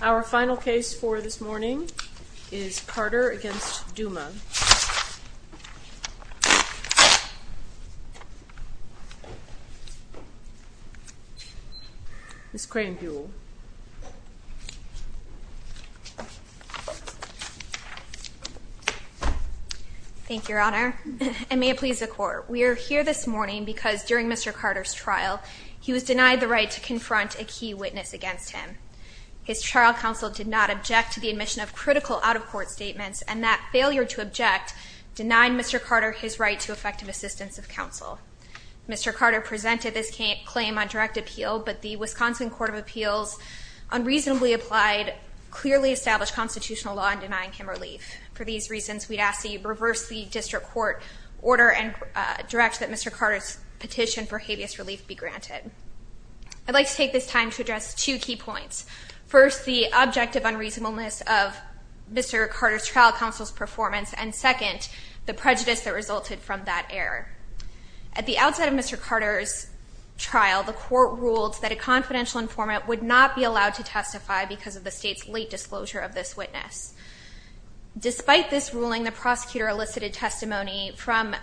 Our final case for this morning is Carter v. Douma Ms. Cranbule Thank you, Your Honor. And may it please the Court, we are here this morning because during Mr. Carter's trial he was denied the right to confront a key witness against him. His trial counsel did not object to the admission of critical out-of-court statements, and that failure to object denied Mr. Carter his right to effective assistance of counsel. Mr. Carter presented this claim on direct appeal, but the Wisconsin Court of Appeals unreasonably applied, clearly established constitutional law in denying him relief. For these reasons, we ask that you reverse the district court order and direct that Mr. Carter's claim for habeas relief be granted. I'd like to take this time to address two key points. First, the objective unreasonableness of Mr. Carter's trial counsel's performance, and second, the prejudice that resulted from that error. At the outset of Mr. Carter's trial, the Court ruled that a confidential informant would not be allowed to testify because of the State's late disclosure of this witness. Despite this ruling, the prosecutor elicited testimony from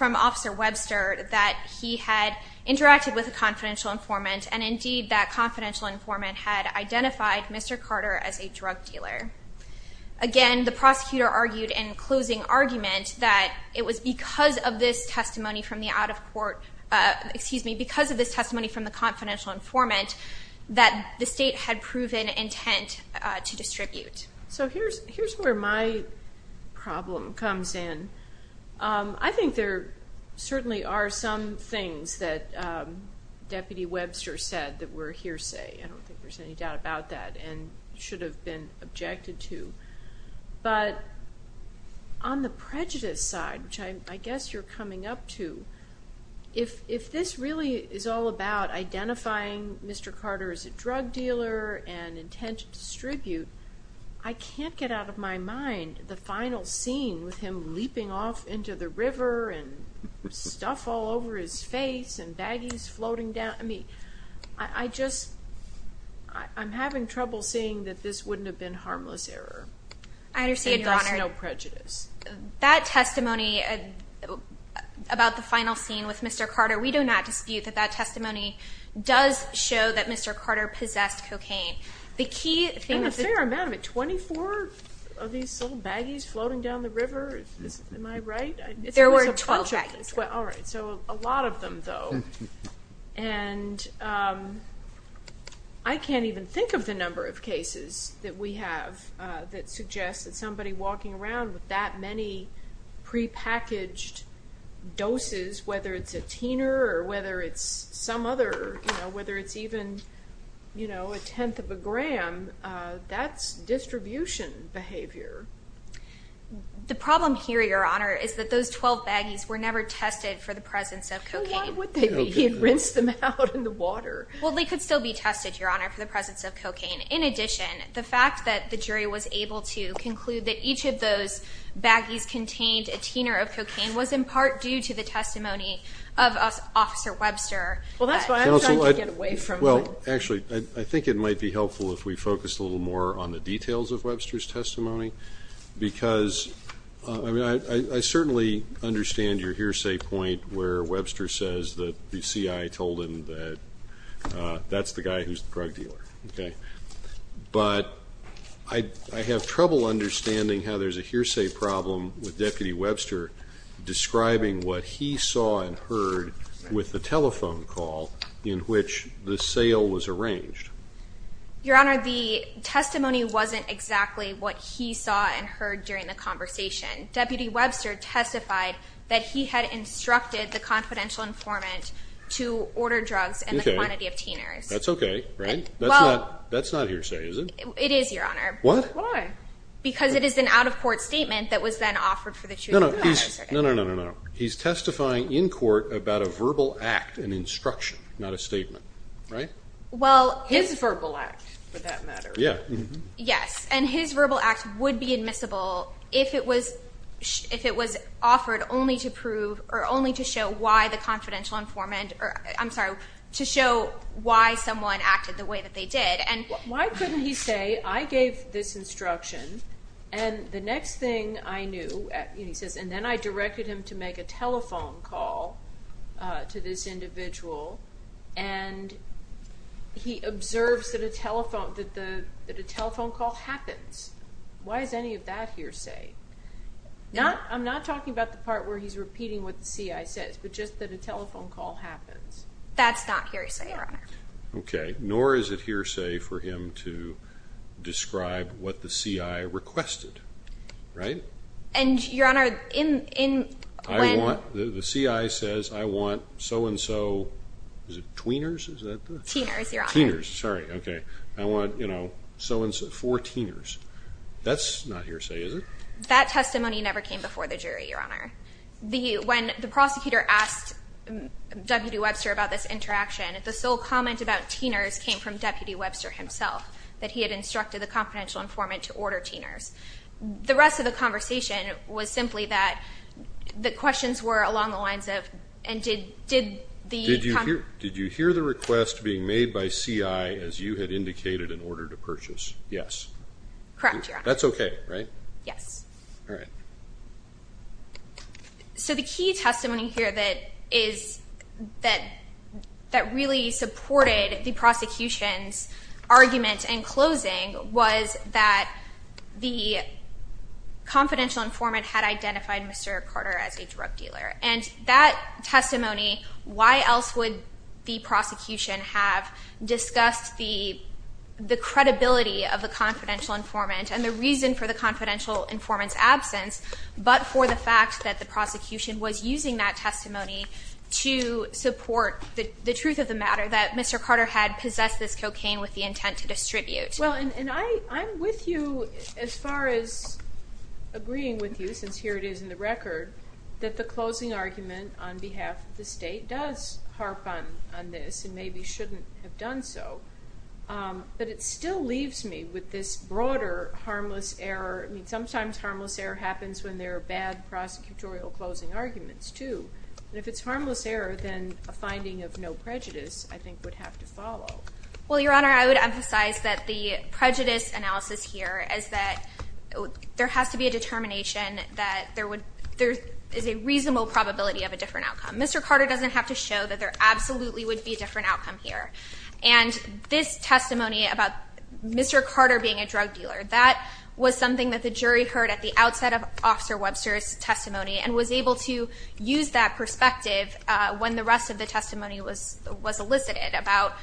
Officer Webster that he had interacted with a confidential informant, and indeed that confidential informant had identified Mr. Carter as a drug dealer. Again, the prosecutor argued in closing argument that it was because of this testimony from the out-of-court, excuse me, because of this testimony from the confidential informant that the State had proven intent to distribute. So here's where my problem comes in. I think there certainly are some things that Deputy Webster said that were hearsay. I don't think there's any doubt about that and should have been objected to. But on the prejudice side, which I guess you're coming up to, if this really is all about identifying Mr. Carter as a drug dealer and intent to distribute, I can't get out of my mind the final scene with him leaping off into the river and stuff all over his face and baggies floating down. I mean, I just, I'm having trouble seeing that this wouldn't have been harmless error. I understand, Your Honor. And there's no prejudice. That testimony about the final scene with Mr. Carter, we do not dispute that that testimony does show that Mr. Carter possessed cocaine. And a fair amount of it. Twenty-four of these little baggies floating down the river? Am I right? There were 12 baggies. All right. So a lot of them, though. And I can't even think of the number of cases that we have that suggest that somebody walking around with that many prepackaged doses, whether it's a teener or whether it's some other, whether it's even a tenth of a gram, that's distribution behavior. The problem here, Your Honor, is that those 12 baggies were never tested for the presence of cocaine. Well, why would they be? He had rinsed them out in the water. Well, they could still be tested, Your Honor, for the presence of cocaine. In addition, the fact that the jury was able to conclude that each of those baggies contained a teener of cocaine was in part due to the testimony of Officer Webster. Well, actually, I think it might be helpful if we focused a little more on the details of Webster's testimony, because I certainly understand your hearsay point where Webster says that the CI told him that that's the guy who's the drug dealer. But I have trouble understanding how there's a hearsay problem with Deputy Webster describing what he saw and heard with the telephone call in which the sale was arranged. Your Honor, the testimony wasn't exactly what he saw and heard during the conversation. Deputy Webster testified that he had instructed the confidential informant to order drugs in the quantity of teeners. That's okay, right? That's not hearsay, is it? It is, Your Honor. What? Why? Because it is an out-of-court statement that was then offered for the truth of the matter. No, no, no, no, no, no. He's testifying in court about a verbal act, an instruction, not a statement, right? Well, his verbal act, for that matter. Yeah. Yes, and his verbal act would be admissible if it was offered only to prove Why couldn't he say, I gave this instruction, and the next thing I knew, and he says, and then I directed him to make a telephone call to this individual, and he observes that a telephone call happens. Why is any of that hearsay? I'm not talking about the part where he's repeating what the CI says, but just that a telephone call happens. That's not hearsay, Your Honor. Okay. Nor is it hearsay for him to describe what the CI requested, right? And, Your Honor, in when The CI says, I want so-and-so, is it tweeners? Teeners, Your Honor. Teeners, sorry. Okay. I want, you know, so-and-so, four teeners. That's not hearsay, is it? That testimony never came before the jury, Your Honor. When the prosecutor asked W.D. Webster about this interaction, the sole comment about teeners came from Deputy Webster himself, that he had instructed the confidential informant to order teeners. The rest of the conversation was simply that the questions were along the lines of, and did the Did you hear the request being made by CI, as you had indicated, in order to purchase? Yes. Correct, Your Honor. That's okay, right? Yes. All right. So the key testimony here that really supported the prosecution's argument in closing was that the confidential informant had identified Mr. Carter as a drug dealer. And that testimony, why else would the prosecution have discussed the credibility of the confidential informant and the reason for the confidential informant's absence, but for the fact that the prosecution was using that testimony to support the truth of the matter, that Mr. Carter had possessed this cocaine with the intent to distribute? Well, and I'm with you as far as agreeing with you, since here it is in the record, that the closing argument on behalf of the State does harp on this and maybe shouldn't have done so. But it still leaves me with this broader harmless error. I mean, sometimes harmless error happens when there are bad prosecutorial closing arguments too. And if it's harmless error, then a finding of no prejudice, I think, would have to follow. Well, Your Honor, I would emphasize that the prejudice analysis here is that there has to be a determination that there is a reasonable probability of a different outcome. Mr. Carter doesn't have to show that there absolutely would be a different outcome here. And this testimony about Mr. Carter being a drug dealer, that was something that the jury heard at the outset of Officer Webster's testimony and was able to use that perspective when the rest of the testimony was elicited about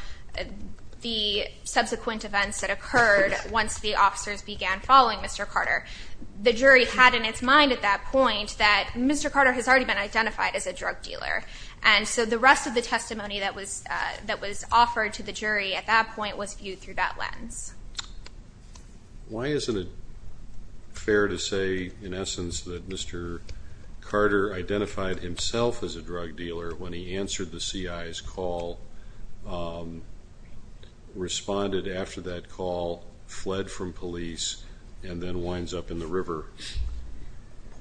the subsequent events that occurred once the officers began following Mr. Carter. The jury had in its mind at that point that Mr. Carter has already been identified as a drug dealer. And so the rest of the testimony that was offered to the jury at that point was viewed through that lens. Why isn't it fair to say, in essence, that Mr. Carter identified himself as a drug dealer when he answered the CI's call, responded after that call, fled from police, and then winds up in the river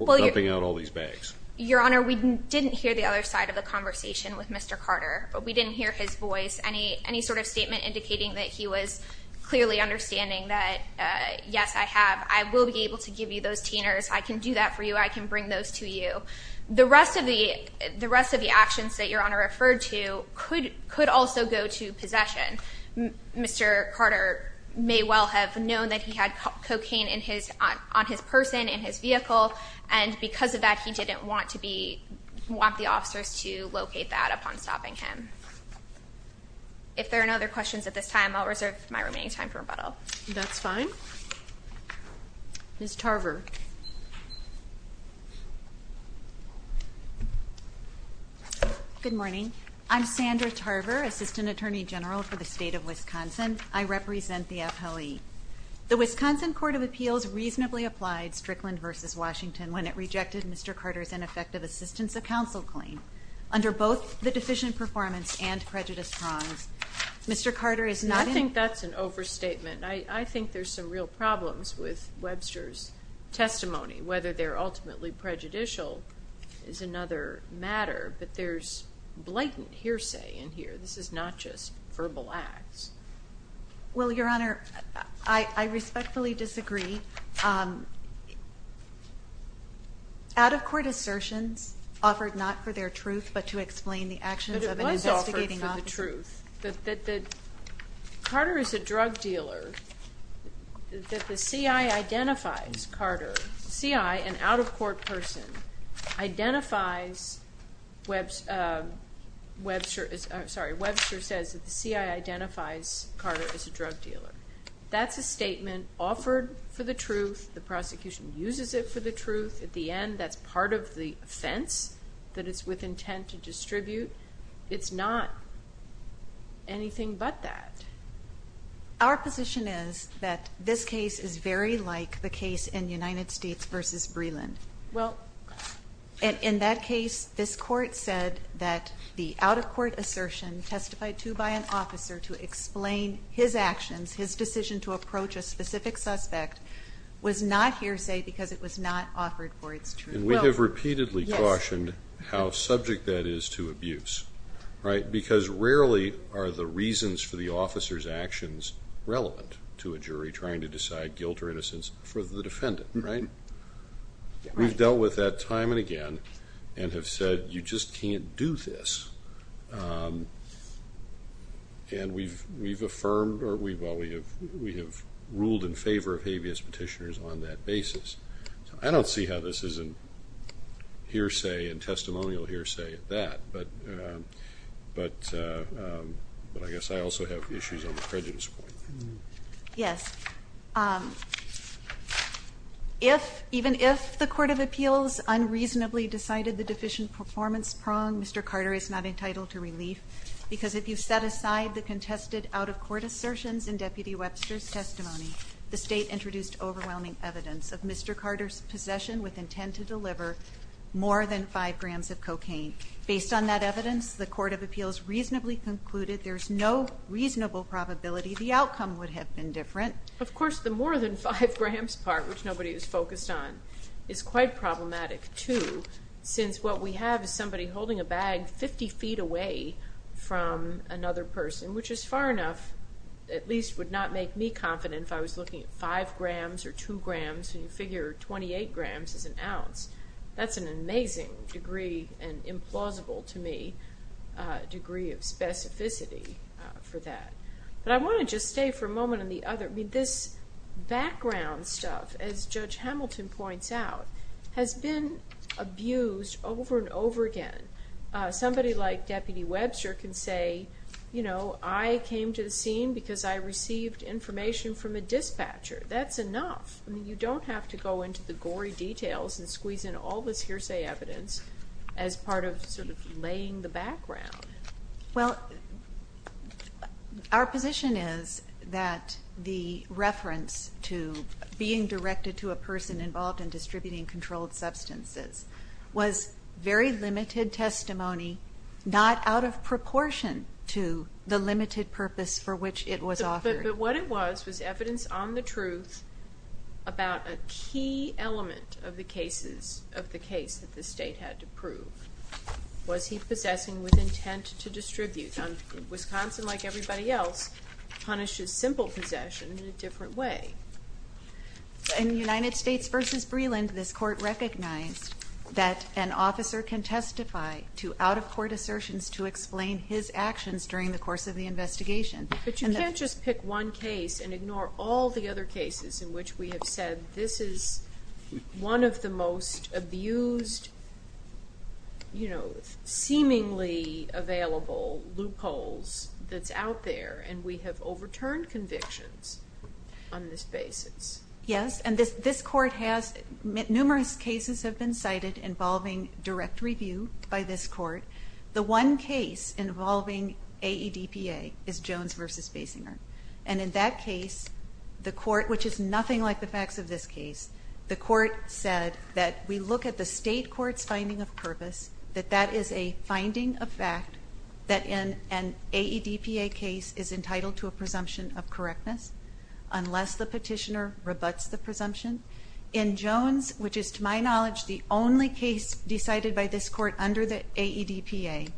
dumping out all these bags? Your Honor, we didn't hear the other side of the conversation with Mr. Carter. We didn't hear his voice, any sort of statement indicating that he was clearly understanding that, yes, I have, I will be able to give you those teeners, I can do that for you, I can bring those to you. The rest of the actions that Your Honor referred to could also go to possession. Mr. Carter may well have known that he had cocaine on his person, in his vehicle, and because of that he didn't want the officers to locate that upon stopping him. If there are no other questions at this time, I'll reserve my remaining time for rebuttal. That's fine. Ms. Tarver. Good morning. I'm Sandra Tarver, Assistant Attorney General for the State of Wisconsin. I represent the FLE. The Wisconsin Court of Appeals reasonably applied Strickland v. Washington when it rejected Mr. Carter's ineffective assistance of counsel claim. Under both the deficient performance and prejudice prongs, Mr. Carter is not in- I think that's an overstatement. I think there's some real problems with Webster's testimony. Whether they're ultimately prejudicial is another matter, but there's blatant hearsay in here. This is not just verbal acts. Well, Your Honor, I respectfully disagree. Out-of-court assertions offered not for their truth but to explain the actions of an investigating officer. But it was offered for the truth. Carter is a drug dealer. The CI identifies Carter. The CI, an out-of-court person, identifies Webster. Sorry, Webster says that the CI identifies Carter as a drug dealer. That's a statement offered for the truth. The prosecution uses it for the truth. At the end, that's part of the offense that it's with intent to distribute. It's not anything but that. Our position is that this case is very like the case in United States v. Breland. In that case, this court said that the out-of-court assertion testified to by an officer to explain his actions, his decision to approach a specific suspect, was not hearsay because it was not offered for its truth. And we have repeatedly cautioned how subject that is to abuse. Because rarely are the reasons for the officer's actions relevant to a jury trying to decide guilt or innocence for the defendant. We've dealt with that time and again and have said you just can't do this. And we've ruled in favor of habeas petitioners on that basis. I don't see how this isn't hearsay and testimonial hearsay at that. But I guess I also have issues on the prejudice point. Yes. Even if the Court of Appeals unreasonably decided the deficient performance prong, Mr. Carter is not entitled to relief. Because if you set aside the contested out-of-court assertions in Deputy Webster's testimony, the state introduced overwhelming evidence of Mr. Carter's possession with intent to deliver more than 5 grams of cocaine. Based on that evidence, the Court of Appeals reasonably concluded there's no reasonable probability the outcome would have been different. Of course, the more than 5 grams part, which nobody was focused on, is quite problematic, too, since what we have is somebody holding a bag 50 feet away from another person, which is far enough at least would not make me confident if I was looking at 5 grams or 2 grams, and you figure 28 grams is an ounce. That's an amazing degree and implausible to me degree of specificity for that. But I want to just stay for a moment on the other. I mean, this background stuff, as Judge Hamilton points out, has been abused over and over again. Somebody like Deputy Webster can say, you know, I came to the scene because I received information from a dispatcher. That's enough. I mean, you don't have to go into the gory details and squeeze in all this hearsay evidence as part of sort of laying the background. Well, our position is that the reference to being directed to a person involved in distributing controlled substances was very limited testimony, not out of proportion to the limited purpose for which it was offered. But what it was was evidence on the truth about a key element of the case that the state had to prove. Was he possessing with intent to distribute? Wisconsin, like everybody else, punishes simple possession in a different way. In United States v. Breland, this court recognized that an officer can testify to out-of-court assertions to explain his actions during the course of the investigation. But you can't just pick one case and ignore all the other cases in which we have said this is one of the most abused, you know, seemingly available loopholes that's out there and we have overturned convictions on this basis. Yes, and this court has numerous cases have been cited involving direct review by this court. The one case involving AEDPA is Jones v. Basinger. And in that case, the court, which is nothing like the facts of this case, the court said that we look at the state court's finding of purpose, that that is a finding of fact, that in an AEDPA case is entitled to a presumption of correctness unless the petitioner rebuts the presumption. In Jones, which is, to my knowledge, the only case decided by this court under the AEDPA,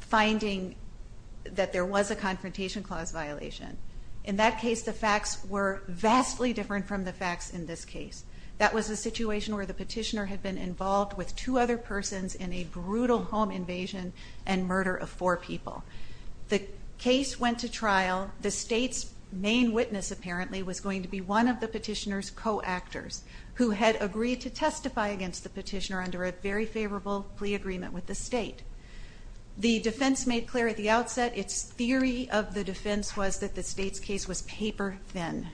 finding that there was a confrontation clause violation. In that case, the facts were vastly different from the facts in this case. That was a situation where the petitioner had been involved with two other persons in a brutal home invasion and murder of four people. The case went to trial. The state's main witness, apparently, was going to be one of the petitioner's co-actors who had agreed to testify against the petitioner under a very favorable plea agreement with the state. The defense made clear at the outset. Its theory of the defense was that the state's case was paper thin.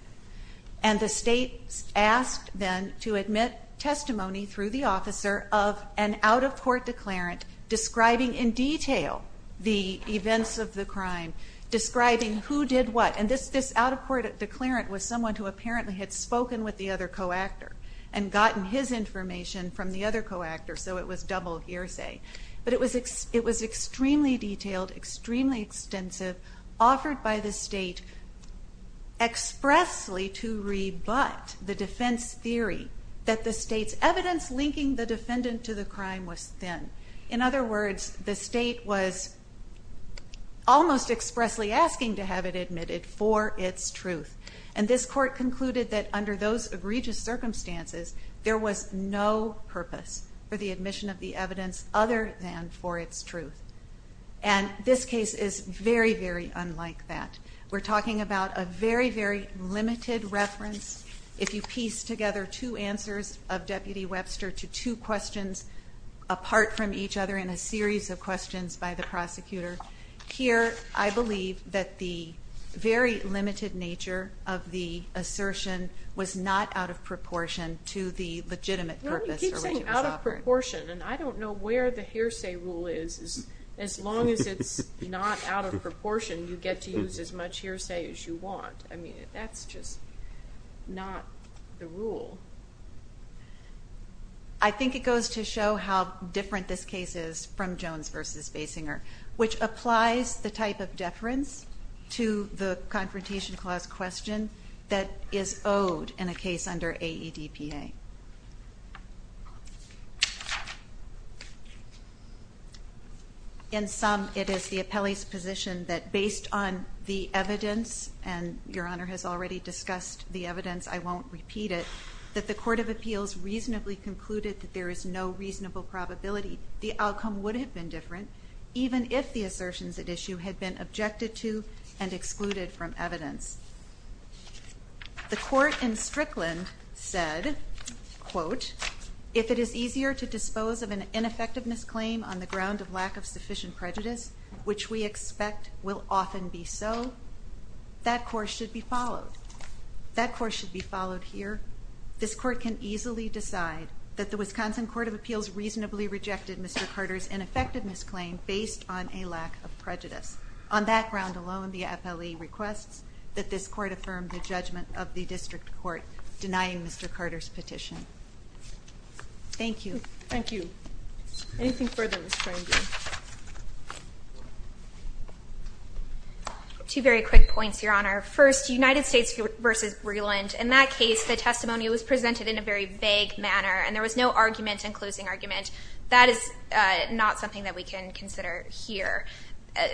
And the state asked then to admit testimony through the officer of an out-of-court declarant describing in detail the events of the crime, describing who did what. And this out-of-court declarant was someone who apparently had spoken with the other co-actor and gotten his information from the other co-actor, so it was double hearsay. But it was extremely detailed, extremely extensive, offered by the state expressly to rebut the defense theory that the state's evidence linking the defendant to the crime was thin. In other words, the state was almost expressly asking to have it admitted for its truth. And this court concluded that under those egregious circumstances, there was no purpose for the admission of the evidence other than for its truth. And this case is very, very unlike that. We're talking about a very, very limited reference. If you piece together two answers of Deputy Webster to two questions apart from each other in a series of questions by the prosecutor, here I believe that the very limited nature of the assertion was not out of proportion to the legitimate purpose. No, you keep saying out of proportion, and I don't know where the hearsay rule is. As long as it's not out of proportion, you get to use as much hearsay as you want. I mean, that's just not the rule. I think it goes to show how different this case is from Jones v. Basinger, which applies the type of deference to the Confrontation Clause question that is owed in a case under AEDPA. In sum, it is the appellee's position that based on the evidence, and Your Honor has already discussed the evidence, I won't repeat it, that the Court of Appeals reasonably concluded that there is no reasonable probability the outcome would have been different even if the assertions at issue had been objected to and excluded from evidence. The Court in Strickland said, quote, if it is easier to dispose of an ineffectiveness claim on the ground of lack of sufficient prejudice, which we expect will often be so, that course should be followed. That course should be followed here. This Court can easily decide that the Wisconsin Court of Appeals reasonably rejected Mr. Carter's ineffectiveness claim based on a lack of prejudice. On that ground alone, the appellee requests that this Court affirm the judgment of the District Court, denying Mr. Carter's petition. Thank you. Thank you. Anything further, Ms. Cranberry? Two very quick points, Your Honor. First, United States v. Breland. In that case, the testimony was presented in a very vague manner, and there was no argument and closing argument. That is not something that we can consider here.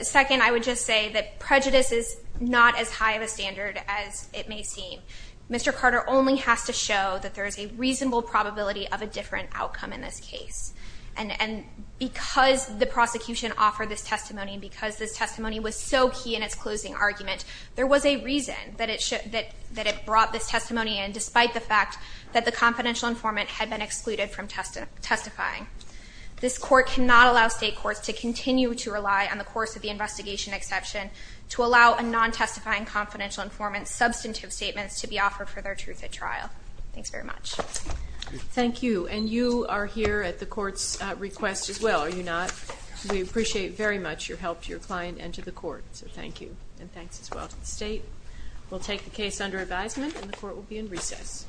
Second, I would just say that prejudice is not as high of a standard as it may seem. Mr. Carter only has to show that there is a reasonable probability of a different outcome in this case. And because the prosecution offered this testimony, and because this testimony was so key in its closing argument, there was a reason that it brought this testimony in, despite the fact that the confidential informant had been excluded from testifying. This Court cannot allow state courts to continue to rely on the course of the investigation exception to allow a non-testifying confidential informant's substantive statements to be offered for their truth at trial. Thanks very much. Thank you. And you are here at the Court's request as well, are you not? We appreciate very much your help to your client and to the Court. So thank you, and thanks as well to the State. We'll take the case under advisement, and the Court will be in recess.